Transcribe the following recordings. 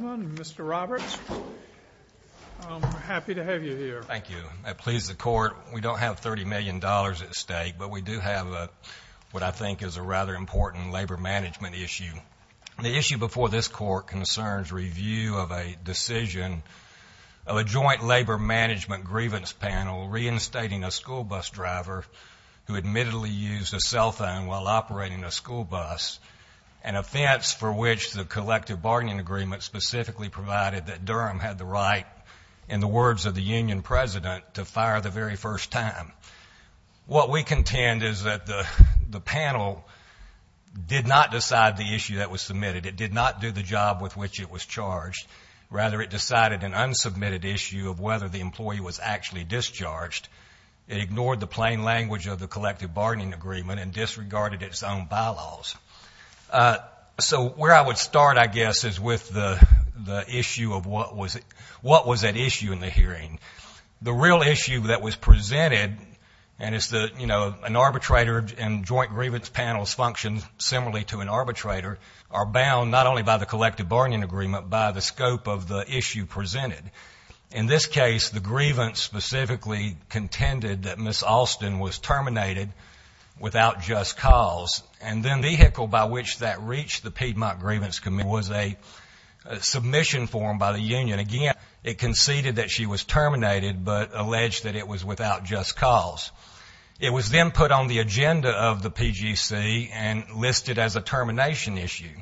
Mr. Roberts, I'm happy to have you here. Thank you. That pleases the court. We don't have $30 million at stake, but we do have what I think is a rather important labor management issue. The issue before this court concerns review of a decision of a joint labor management grievance panel reinstating a school bus driver who admittedly used a cell phone while operating a school bus, an offense for which the collective bargaining agreement specifically provided that Durham had the right, in the words of the union president, to fire the very first time. What we contend is that the panel did not decide the issue that was submitted. It did not do the job with which it was charged. Rather, it decided an unsubmitted issue of whether the employee was actually discharged. It ignored the plain language of the collective bargaining agreement and disregarded its own bylaws. So where I would start, I guess, is with the issue of what was at issue in the hearing. The real issue that was presented, and it's the, you know, an arbitrator and joint grievance panels function similarly to an arbitrator, are bound not only by the collective bargaining agreement, but by the scope of the issue presented. In this case, the grievance specifically contended that Ms. Alston was terminated without just cause and then the vehicle by which that reached the Piedmont Grievance Committee was a submission form by the union. And again, it conceded that she was terminated, but alleged that it was without just cause. It was then put on the agenda of the PGC and listed as a termination issue.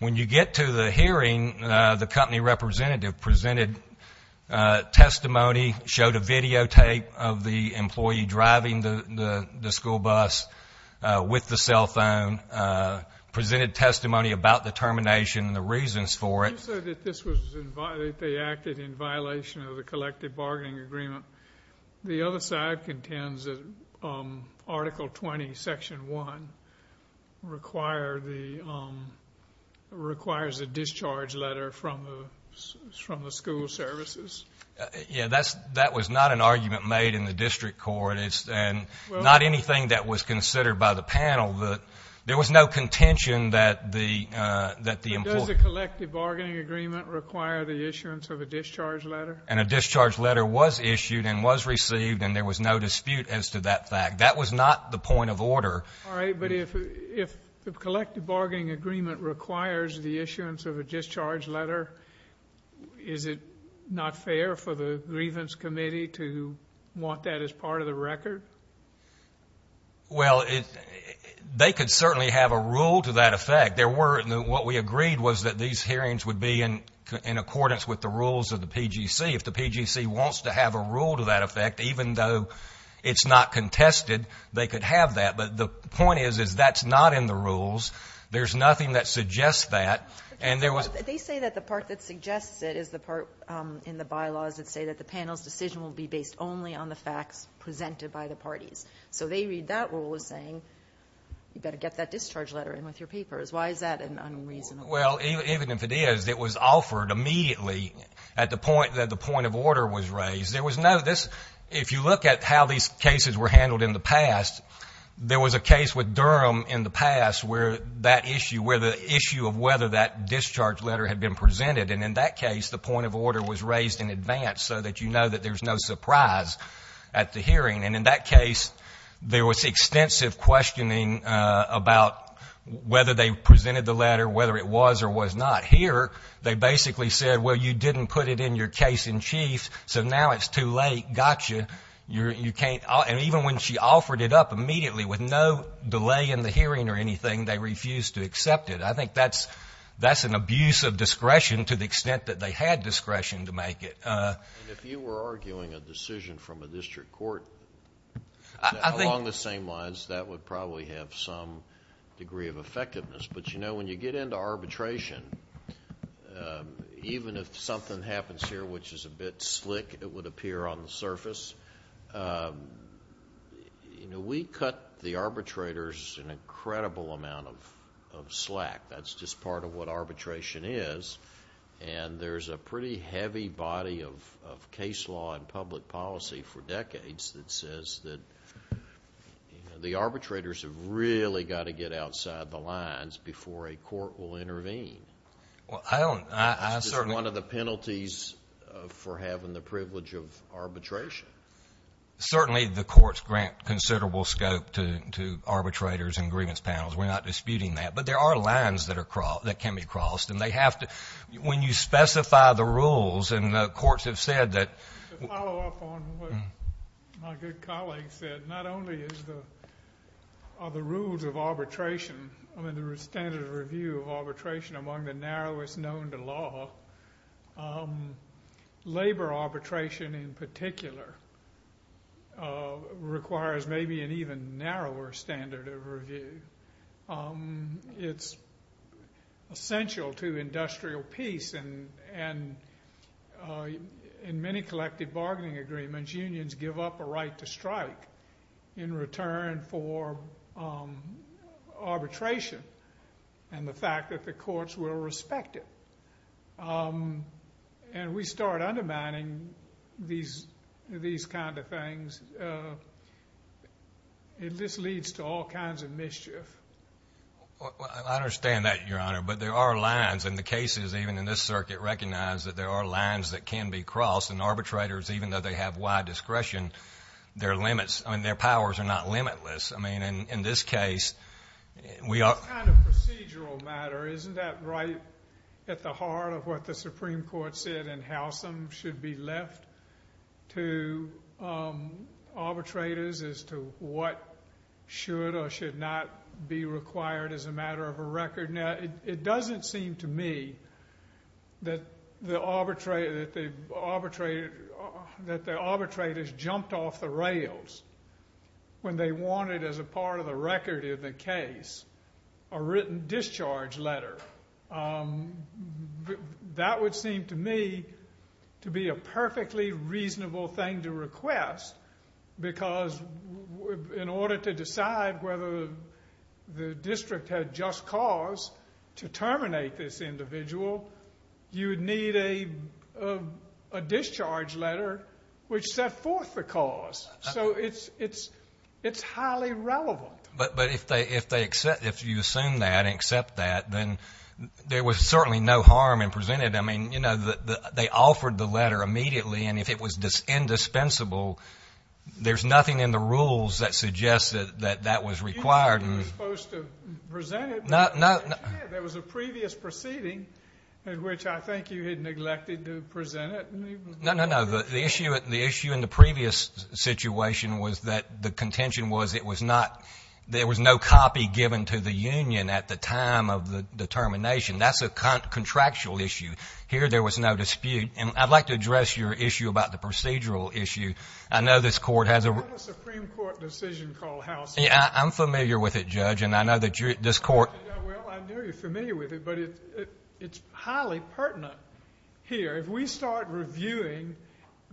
When you get to the hearing, the company representative presented testimony, showed a videotape of the employee driving the school bus with the cell phone, presented testimony about the termination and the reasons for it. You said that this was, that they acted in violation of the collective bargaining agreement. The other side contends that Article 20, Section 1, requires a discharge letter from the school services. Yeah, that was not an argument made in the district court, and not anything that was considered by the panel. There was no contention that the employee Did the collective bargaining agreement require the issuance of a discharge letter? And a discharge letter was issued and was received and there was no dispute as to that fact. That was not the point of order. All right, but if the collective bargaining agreement requires the issuance of a discharge letter, is it not fair for the Grievance Committee to want that as part of the record? Well, they could certainly have a rule to that effect. In fact, there were, and what we agreed was that these hearings would be in accordance with the rules of the PGC. If the PGC wants to have a rule to that effect, even though it's not contested, they could have that. But the point is, is that's not in the rules. There's nothing that suggests that. And there was They say that the part that suggests it is the part in the bylaws that say that the panel's decision will be based only on the facts presented by the parties. So they read that rule as saying, you've got to get that discharge letter in with your papers. Why is that unreasonable? Well, even if it is, it was offered immediately at the point that the point of order was raised. There was no this If you look at how these cases were handled in the past, there was a case with Durham in the past where that issue, where the issue of whether that discharge letter had been presented, and in that case, the point of order was raised in advance so that you know that there's no surprise at the hearing. And in that case, there was extensive questioning about whether they presented the letter, whether it was or was not. Here, they basically said, well, you didn't put it in your case in chief. So now it's too late. Gotcha. You can't. And even when she offered it up immediately with no delay in the hearing or anything, they refused to accept it. I think that's that's an abuse of discretion to the extent that they had discretion to make it. If you were arguing a decision from a district court along the same lines, that would probably have some degree of effectiveness. But you know, when you get into arbitration, even if something happens here which is a bit slick, it would appear on the surface. We cut the arbitrators an incredible amount of slack. That's just part of what arbitration is. And there's a pretty heavy body of case law and public policy for decades that says that the arbitrators have really got to get outside the lines before a court will intervene. Well, I don't. I certainly... It's just one of the penalties for having the privilege of arbitration. Certainly the courts grant considerable scope to arbitrators and grievance panels. We're not disputing that. But there are lines that are crossed, that can be crossed. And they have to... When you specify the rules, and the courts have said that... To follow up on what my good colleague said, not only are the rules of arbitration, I mean the standard of review of arbitration among the narrowest known to law, labor arbitration in particular requires maybe an even narrower standard of review. It's essential to industrial peace. And in many collective bargaining agreements, unions give up a right to strike in return for arbitration and the fact that the courts will respect it. And we start undermining these kind of things. It just leads to all kinds of mischief. I understand that, Your Honor. But there are lines. And the cases, even in this circuit, recognize that there are lines that can be crossed and arbitrators, even though they have wide discretion, their limits... I mean, their powers are not limitless. I mean, in this case, we are... It's kind of a procedural matter. Isn't that right at the heart of what the Supreme Court said in as to what should or should not be required as a matter of a record? Now, it doesn't seem to me that the arbitrators jumped off the rails when they wanted as a part of the record in the case a written discharge letter. That would seem to me to be a perfectly reasonable thing to request because in order to decide whether the district had just cause to terminate this individual, you would need a discharge letter which set forth the cause. So, it's highly relevant. But if you assume that and accept that, then there was certainly no harm in presenting it. I mean, you know, they offered the letter immediately. And if it was indispensable, there's nothing in the rules that suggests that that was required. You said you were supposed to present it, but you didn't. No. There was a previous proceeding in which I think you had neglected to present it. No, no, no. The issue in the previous situation was that the contention was there was no copy given to the union at the time of the determination. That's a contractual issue. Here there was no dispute. And I'd like to address your issue about the procedural issue. I know this court has a... I have a Supreme Court decision called House... Yeah, I'm familiar with it, Judge, and I know that this court... Well, I know you're familiar with it, but it's highly pertinent here. If we start reviewing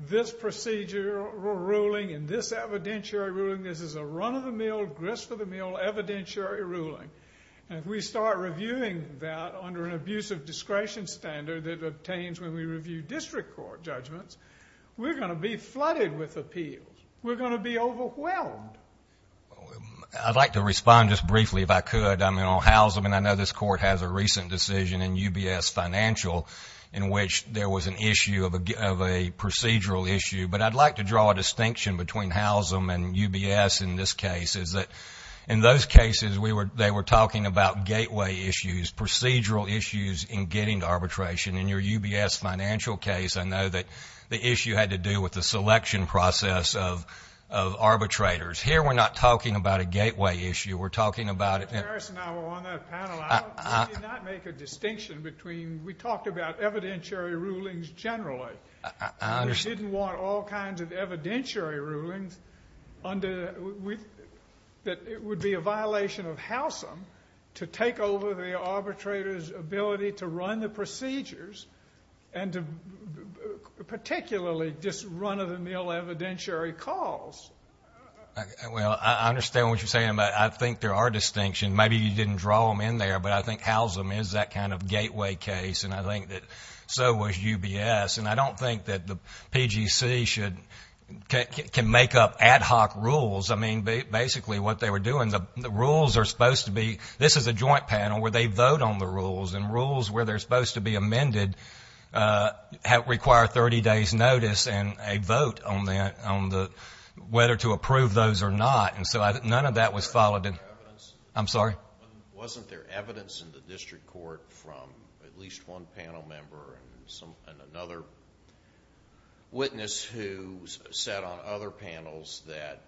this procedural ruling and this evidentiary ruling, this is a run-of-the-mill, grist-of-the-mill evidentiary ruling. And if we start reviewing that under an abusive discretion standard that it obtains when we review district court judgments, we're going to be flooded with appeals. We're going to be overwhelmed. I'd like to respond just briefly, if I could, on House. I mean, I know this court has a recent decision in UBS Financial in which there was an issue of a procedural issue. But I'd like to draw a distinction between Howsam and UBS in this case is that in those cases they were talking about gateway issues, procedural issues in getting to arbitration. In your UBS Financial case, I know that the issue had to do with the selection process of arbitrators. Here we're not talking about a gateway issue. We're talking about... Mr. Harris and I were on that panel. I did not make a distinction between... we talked about evidentiary rulings generally. I understand. We didn't want all kinds of evidentiary rulings under... that it would be a violation of Howsam to take over the arbitrator's ability to run the procedures and to particularly just run-of-the-mill evidentiary calls. Well, I understand what you're saying, but I think there are distinctions. Maybe you didn't draw them in there, but I think Howsam is that kind of gateway case, and I think that so was UBS. And I don't think that the PGC should... can make up ad hoc rules. I mean, basically what they were doing, the rules are supposed to be... this is a joint panel where they vote on the rules, and rules where they're supposed to be amended require a 30-day's notice and a vote on whether to approve those or not, and so none of that was followed... Wasn't there evidence... I'm sorry? Wasn't there evidence in the district court from at least one panel member and another witness who sat on other panels that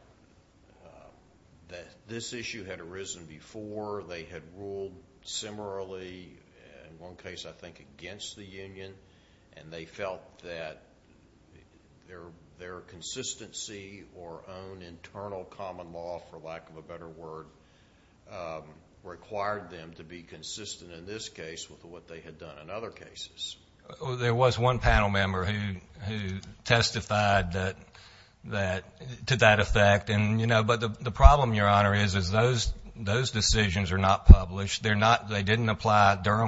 this issue had arisen before, they had ruled similarly in one case, I think, against the union, and they felt that their consistency or own internal common law, for lack of a better word, required them to be consistent in this case with what they had done in other cases? There was one panel member who testified that... to that effect, and you know, but the Durham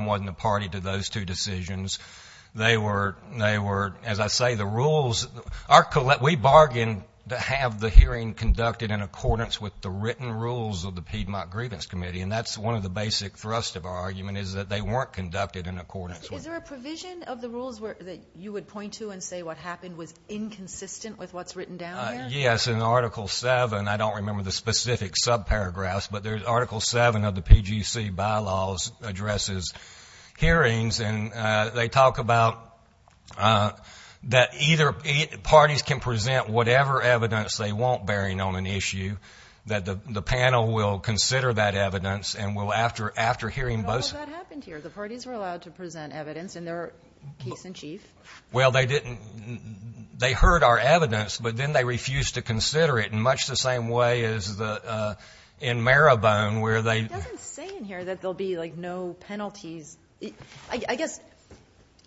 wasn't a party to those two decisions. They were... as I say, the rules... we bargain to have the hearing conducted in accordance with the written rules of the Piedmont Grievance Committee, and that's one of the basic thrusts of our argument is that they weren't conducted in accordance with... Is there a provision of the rules that you would point to and say what happened was inconsistent with what's written down there? Yes, in Article 7, I don't remember the specific subparagraphs, but there's Article 7 of the Grievances hearings, and they talk about that either... parties can present whatever evidence they want, bearing on an issue, that the panel will consider that evidence and will after hearing both... But all of that happened here. The parties were allowed to present evidence in their case-in-chief. Well, they didn't... they heard our evidence, but then they refused to consider it in much the same way as in Marabone, where they... Well, I guess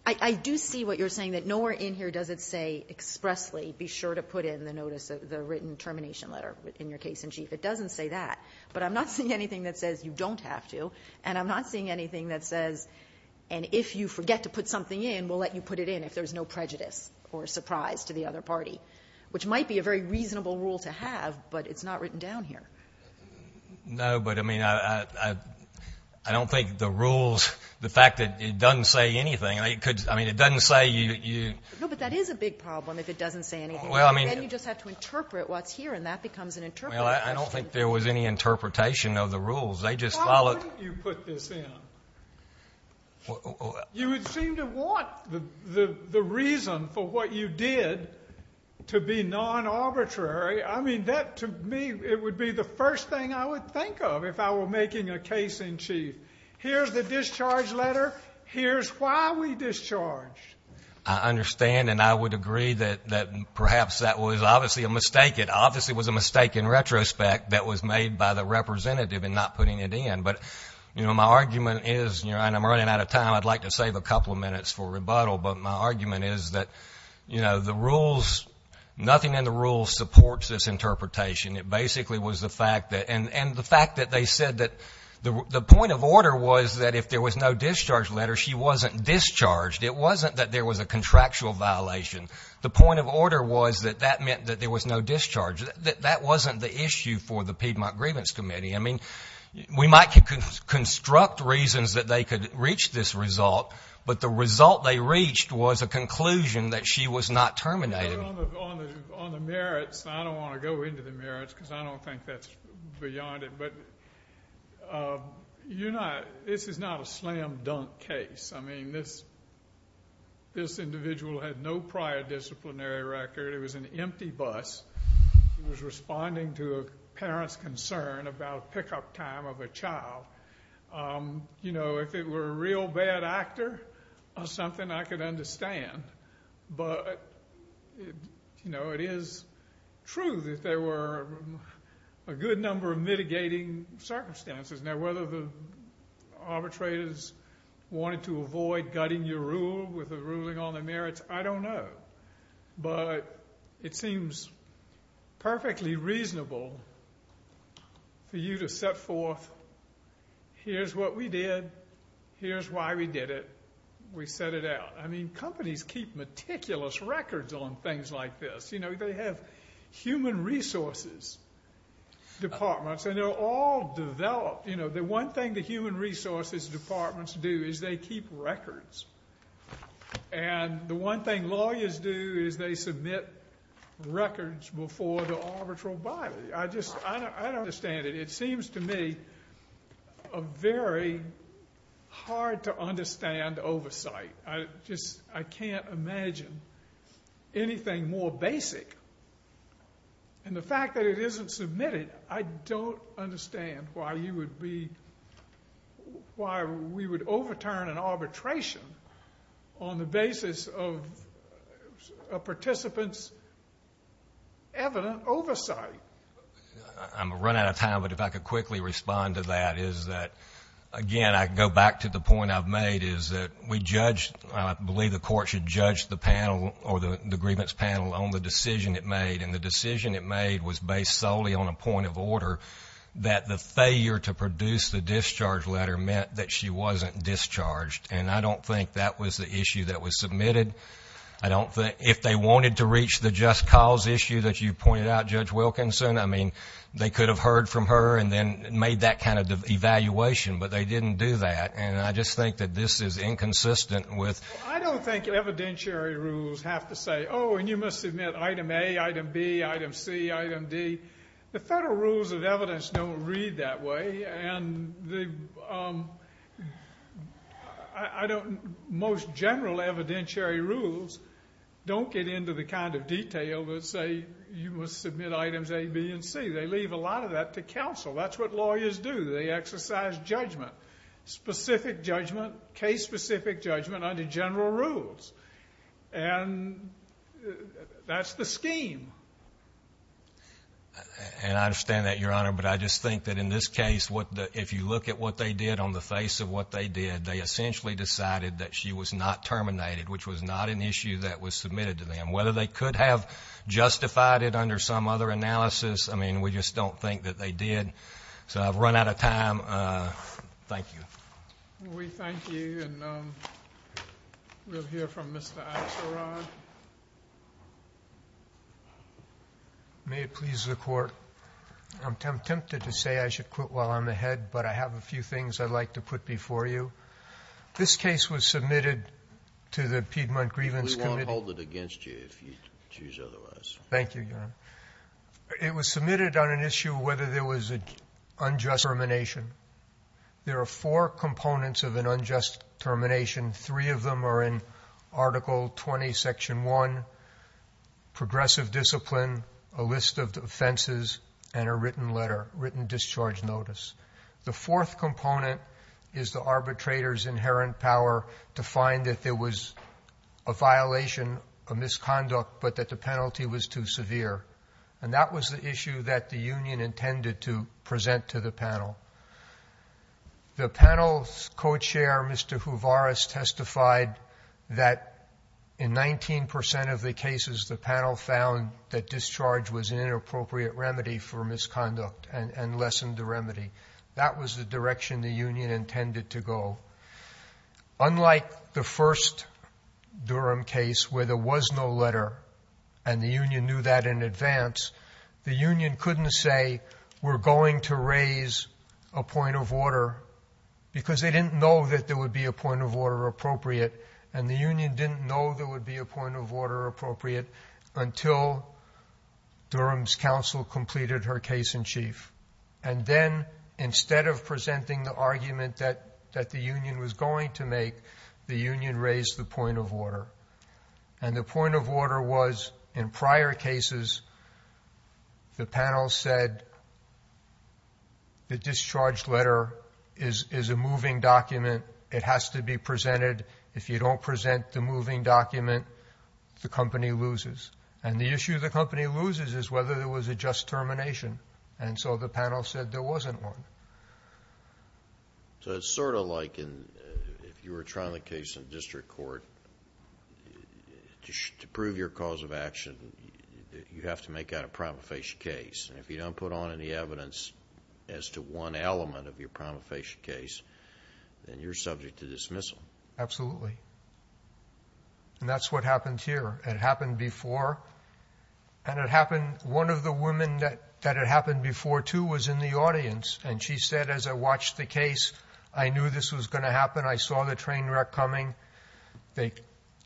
I do see what you're saying, that nowhere in here does it say expressly be sure to put in the written termination letter in your case-in-chief. It doesn't say that, but I'm not seeing anything that says you don't have to, and I'm not seeing anything that says, and if you forget to put something in, we'll let you put it in if there's no prejudice or surprise to the other party, which might be a very reasonable rule to have, but it's not written down here. No, but I mean, I don't think the rules... the fact that it doesn't say anything, it could... I mean, it doesn't say you... No, but that is a big problem if it doesn't say anything. Well, I mean... Then you just have to interpret what's here, and that becomes an interpretive question. Well, I don't think there was any interpretation of the rules. They just followed... Why wouldn't you put this in? You would seem to want the reason for what you did to be non-arbitrary. I mean, that, to me, it would be the first thing I would think of if I were making a case in chief. Here's the discharge letter. Here's why we discharged. I understand, and I would agree that perhaps that was obviously a mistake. It obviously was a mistake in retrospect that was made by the representative in not putting it in, but my argument is... and I'm running out of time. I'd like to save a couple of minutes for rebuttal, but my argument is that the rules... nothing in the rules supports this interpretation. It basically was the fact that... and the fact that they said that the point of order was that if there was no discharge letter, she wasn't discharged. It wasn't that there was a contractual violation. The point of order was that that meant that there was no discharge. That wasn't the issue for the Piedmont Grievance Committee. I mean, we might construct reasons that they could reach this result, but the result they reached was a conclusion that she was not terminated. On the merits, I don't want to go into the merits, because I don't think that's beyond it, but you're not... this is not a slam-dunk case. I mean, this individual had no prior disciplinary record. It was an empty bus. It was responding to a parent's concern about pickup time of a child. You know, if it were a real bad actor or something, I could understand, but, you know, it is true that there were a good number of mitigating circumstances. Now, whether the arbitrators wanted to avoid gutting your rule with a ruling on the merits, I don't know, but it seems perfectly reasonable for you to set forth, here's what we did. Here's why we did it. We set it out. I mean, companies keep meticulous records on things like this. You know, they have human resources departments, and they're all developed. You know, the one thing the human resources departments do is they keep records, and the one thing lawyers do is they submit records before the arbitral body. I just... I don't understand it. It seems to me a very hard-to-understand oversight. I just... I can't imagine anything more basic, and the fact that it isn't submitted, I don't understand why you would be... why we would overturn an arbitration on the basis of a participant's evident oversight. I'm going to run out of time, but if I could quickly respond to that is that, again, I go back to the point I've made is that we judged... I believe the court should judge the panel or the grievance panel on the decision it made, and the decision it made was based solely on a point of order that the failure to produce the discharge letter meant that she wasn't discharged, and I don't think that was the issue that was submitted. I don't think... if they wanted to reach the just cause issue that you pointed out, Judge Wilkinson, I mean, they could have heard from her and then made that kind of evaluation, but they didn't do that, and I just think that this is inconsistent with... I don't think evidentiary rules have to say, oh, and you must submit item A, item B, item C, item D. The federal rules of evidence don't read that way, and the... I don't... most general evidentiary rules don't get into the kind of detail that say you must submit items A, B, and C. They leave a lot of that to counsel. That's what lawyers do. They exercise judgment, specific judgment, case-specific judgment under general rules, and that's the scheme. I understand that, Your Honor, but I just think that in this case, if you look at what they did on the face of what they did, they essentially decided that she was not terminated, which was not an issue that was submitted to them. Whether they could have justified it under some other analysis, I mean, we just don't think that they did, so I've run out of time. Thank you. We thank you, and we'll hear from Mr. Axelrod. May it please the Court. I'm tempted to say I should quit while I'm ahead, but I have a few things I'd like to put before you. This case was submitted to the Piedmont Grievance Committee. We won't hold it against you if you choose otherwise. Thank you, Your Honor. It was submitted on an issue of whether there was an unjust termination. There are four components of an unjust termination. Three of them are in Article 20, Section 1, progressive discipline, a list of offenses, and a written letter, written discharge notice. The fourth component is the arbitrator's inherent power to find that there was a violation, a misconduct, but that the penalty was too severe, and that was the issue that the union intended to address. The panel's co-chair, Mr. Huvaras, testified that in 19 percent of the cases, the panel found that discharge was an inappropriate remedy for misconduct and lessened the remedy. That was the direction the union intended to go. Unlike the first Durham case where there was no letter, and the union knew that in advance, the union couldn't say, we're going to raise a point of order, because they didn't know that there would be a point of order appropriate, and the union didn't know there would be a point of order appropriate until Durham's counsel completed her case in chief. And then, instead of presenting the argument that the union was going to make, the union raised the point of order. And the point of order was, in prior cases, the panel said the discharged letter is a moving document. It has to be presented. If you don't present the moving document, the company loses. And the issue the company loses is whether there was a just termination, and so the panel said there wasn't one. So it's sort of like if you were trying the case in district court, to prove your cause of action, you have to make out a promulgation case. And if you don't put on any evidence as to one element of your promulgation case, then you're subject to dismissal. Absolutely. And that's what happened here. It happened before. And it happened, one of the women that it happened before, too, was in the audience. And she said, as I watched the case, I knew this was going to happen. I saw the train wreck coming. They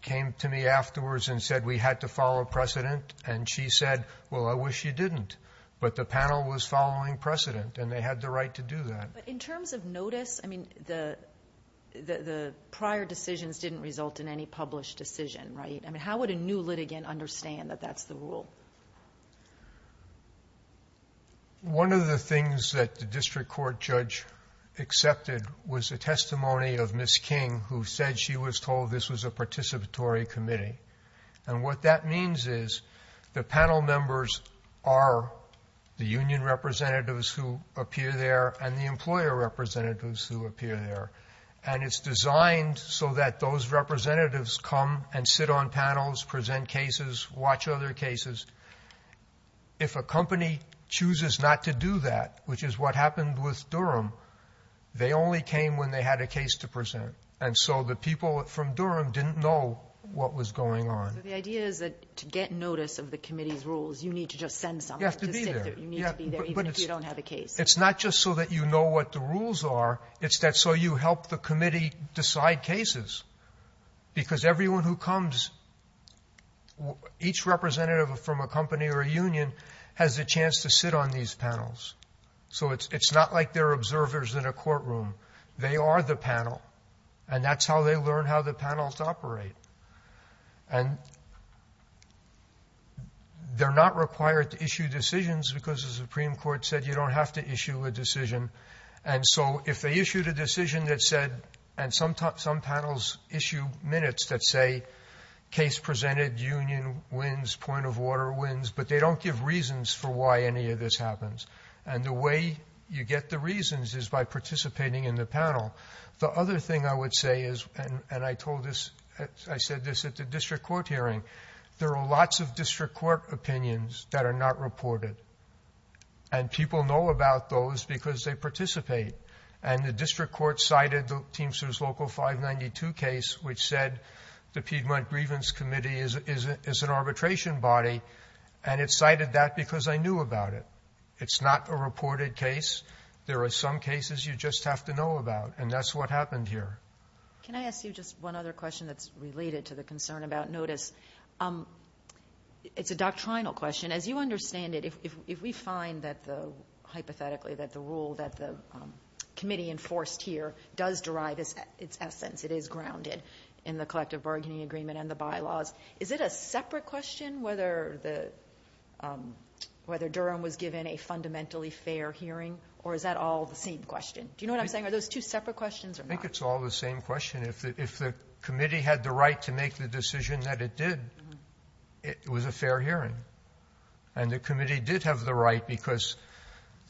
came to me afterwards and said we had to follow precedent. And she said, well, I wish you didn't. But the panel was following precedent, and they had the right to do that. But in terms of notice, I mean, the prior decisions didn't result in any published decision, right? I mean, would a new litigant understand that that's the rule? One of the things that the district court judge accepted was a testimony of Ms. King, who said she was told this was a participatory committee. And what that means is the panel members are the union representatives who appear there and the employer representatives who appear there. And it's designed so that those representatives come and sit on panels, present cases, watch other cases. If a company chooses not to do that, which is what happened with Durham, they only came when they had a case to present. And so the people from Durham didn't know what was going on. So the idea is that to get notice of the committee's rules, you need to just send someone. You have to be there. You need to be there even if you don't have a case. It's not just so that you know what the rules are. It's that so you help the committee decide cases. Because everyone who comes, each representative from a company or a union has a chance to sit on these panels. So it's not like they're observers in a courtroom. They are the panel. And that's how they learn how the panels operate. And they're not required to issue decisions because the Supreme Court said you don't have to issue a decision. And so if they issued a decision that said, and some panels issue minutes that say case presented, union wins, point of order wins, but they don't give reasons for why any of this happens. And the way you get the reasons is by participating in the panel. The other thing I would say is, and I told this, I said this at the district court hearing, there are lots of district court opinions that are not reported. And people know about those because they participate. And the district court cited the Teamsters Local 592 case, which said the Piedmont Grievance Committee is an arbitration body. And it cited that because I knew about it. It's not a reported case. There are some cases you just have to know about. And that's what happened here. Can I ask you just one other question that's related to the concern about notice? It's a doctrinal question. As you understand it, if we find that the, hypothetically, that the rule that the committee enforced here does derive its essence, it is grounded in the collective bargaining agreement and the bylaws, is it a separate question whether Durham was given a fundamentally fair hearing, or is that all the same question? Do you know what I'm saying? Are those two questions or not? I think it's all the same question. If the committee had the right to make the decision that it did, it was a fair hearing. And the committee did have the right because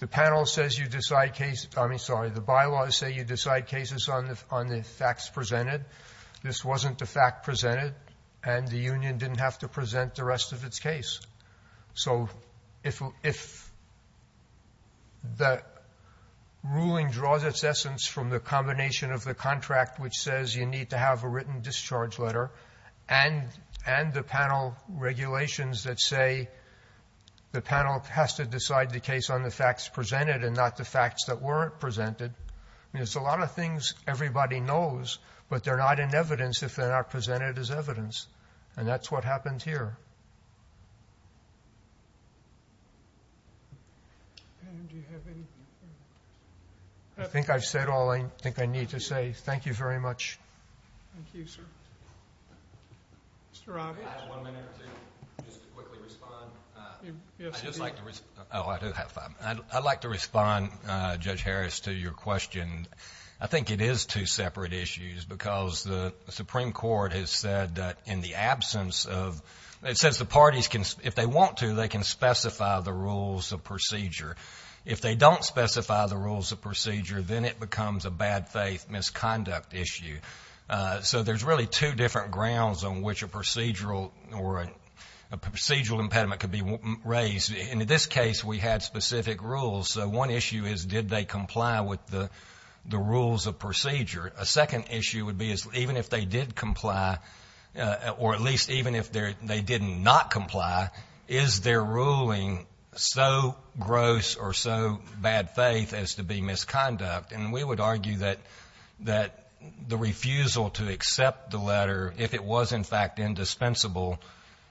the panel says you decide case, I mean, sorry, the bylaws say you decide cases on the facts presented. This wasn't the fact presented. And the union didn't have to present the rest of combination of the contract which says you need to have a written discharge letter and the panel regulations that say the panel has to decide the case on the facts presented and not the facts that weren't presented. I mean, it's a lot of things everybody knows, but they're not in evidence if they're not presented as evidence. And that's what happened here. And do you have anything? I think I've said all I think I need to say. Thank you very much. Thank you, sir. Mr. Robbie. I have one minute to just quickly respond. Oh, I do have time. I'd like to respond, Judge Harris, to your question. I think it is two separate issues because the Supreme Court has said that in the absence of, it says the parties if they want to, they can specify the rules of procedure. If they don't specify the rules of procedure, then it becomes a bad faith misconduct issue. So there's really two different grounds on which a procedural or a procedural impediment could be raised. In this case, we had specific rules. So one issue is did they comply with the rules of procedure? A second issue would be even if they did comply, or at least even if they didn't not comply, is their ruling so gross or so bad faith as to be misconduct? And we would argue that the refusal to accept the letter, if it was in fact indispensable,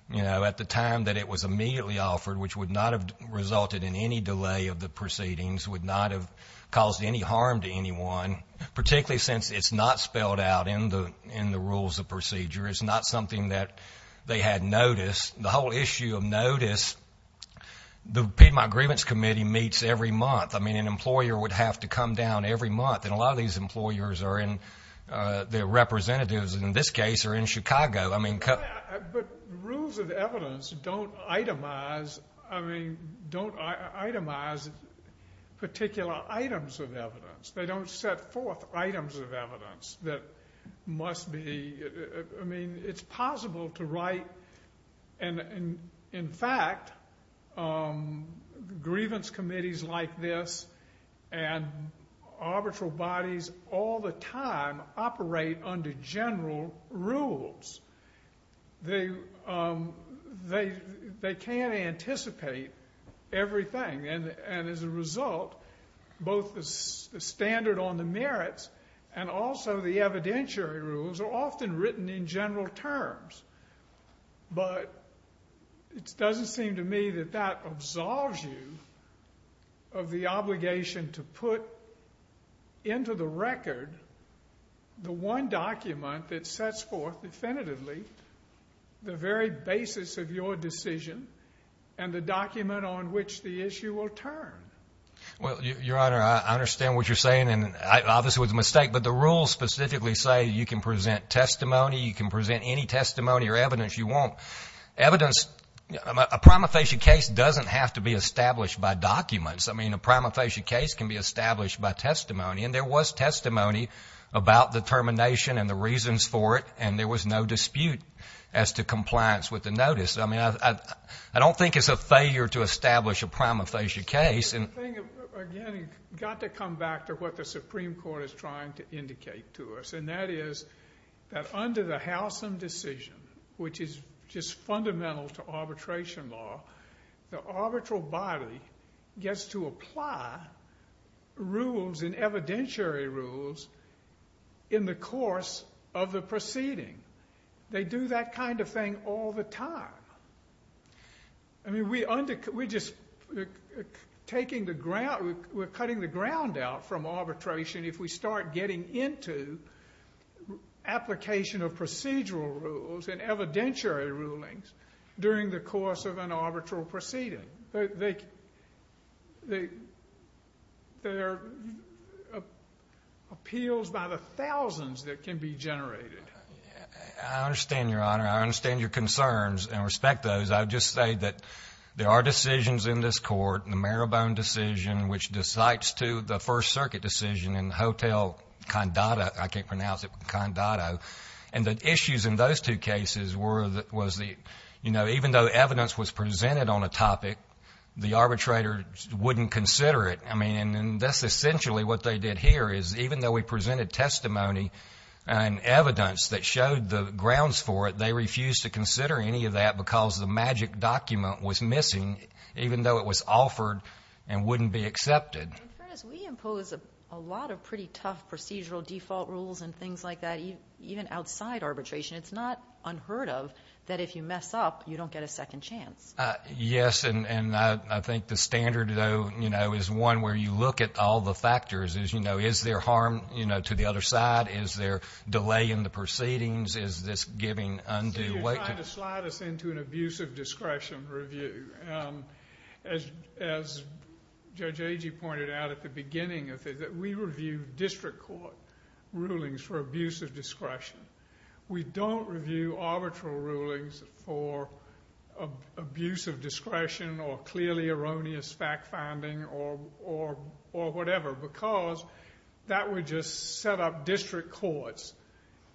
you know, at the time that it was immediately offered, which would not have resulted in any delay of the proceedings, would not have caused any harm to anyone, particularly since it's not spelled out in the rules of procedure. It's not something that they had noticed. The whole issue of notice, the Piedmont Grievance Committee meets every month. I mean, an employer would have to come down every month. And a lot of these employers are in, their representatives in this case are in Chicago. I mean... But rules of evidence don't itemize particular items of evidence. They don't set forth items of evidence that must be, I mean, it's possible to write, and in fact, grievance committees like this and arbitral bodies all the And as a result, both the standard on the merits and also the evidentiary rules are often written in general terms. But it doesn't seem to me that that absolves you of the obligation to put into the record the one document that sets forth definitively the very basis of your decision and the document on which the issue will turn. Well, Your Honor, I understand what you're saying, and obviously it was a mistake, but the rules specifically say you can present testimony, you can present any testimony or evidence you want. Evidence, a prima facie case doesn't have to be established by documents. I mean, a prima facie case can be established by testimony, and there was testimony about the termination and the reasons for it, and there was no dispute as to compliance with the notice. I mean, I don't think it's a failure to establish a prima facie case. I think, again, you've got to come back to what the Supreme Court is trying to indicate to us, and that is that under the Howsam decision, which is just fundamental to arbitration law, the arbitral body gets to apply rules and evidentiary rules in the course of the proceeding. They do that kind of thing all the time. I mean, we're just cutting the ground out from arbitration if we start getting into application of procedural rules and evidentiary rulings during the course of an arbitral proceeding. There are appeals by the thousands that can be generated. I understand, Your Honor. I understand your concerns and respect those. I would just say that there are decisions in this Court, the Marabone decision, which decites to the First Circuit decision in Hotel Condado, I can't pronounce it, Condado, and the issues in those two cases were that was the, you know, even though evidence was presented on a topic, the arbitrator wouldn't consider it. I mean, and that's essentially what they did here, is even though we presented testimony and evidence that showed the grounds for it, they refused to consider any of that because the magic document was missing, even though it was offered and wouldn't be accepted. In fairness, we impose a lot of pretty tough procedural default rules and things like that, even outside arbitration. It's not unheard of that if you mess up, you don't get a second chance. Yes, and I think the standard, though, you know, is one where you look at all the factors, is, you know, is there harm, you know, to the other side? Is there delay in the proceedings? Is this giving undue weight to... You're trying to slide us into an abuse of discretion review. As Judge Agee pointed out at the beginning of it, that we review district court rulings for abuse of discretion. We don't review arbitral rulings for abuse of discretion or clearly erroneous fact-finding or whatever because that would just set up district courts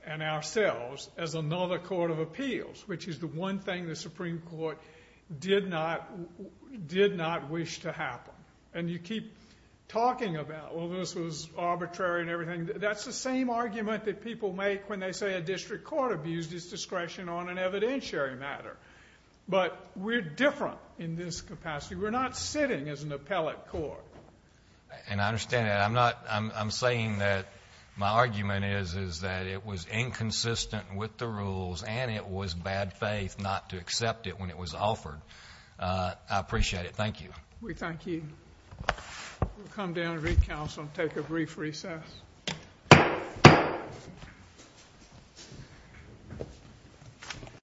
and ourselves as another court of appeals, which is the one thing the Supreme Court did not wish to happen. And you keep talking about, well, this was arbitrary and everything. That's the same argument that people make when they say a district court abused its discretion on an court. And I understand that. I'm saying that my argument is that it was inconsistent with the rules and it was bad faith not to accept it when it was offered. I appreciate it. Thank you. We thank you. We'll come down to recounsel and take a brief recess.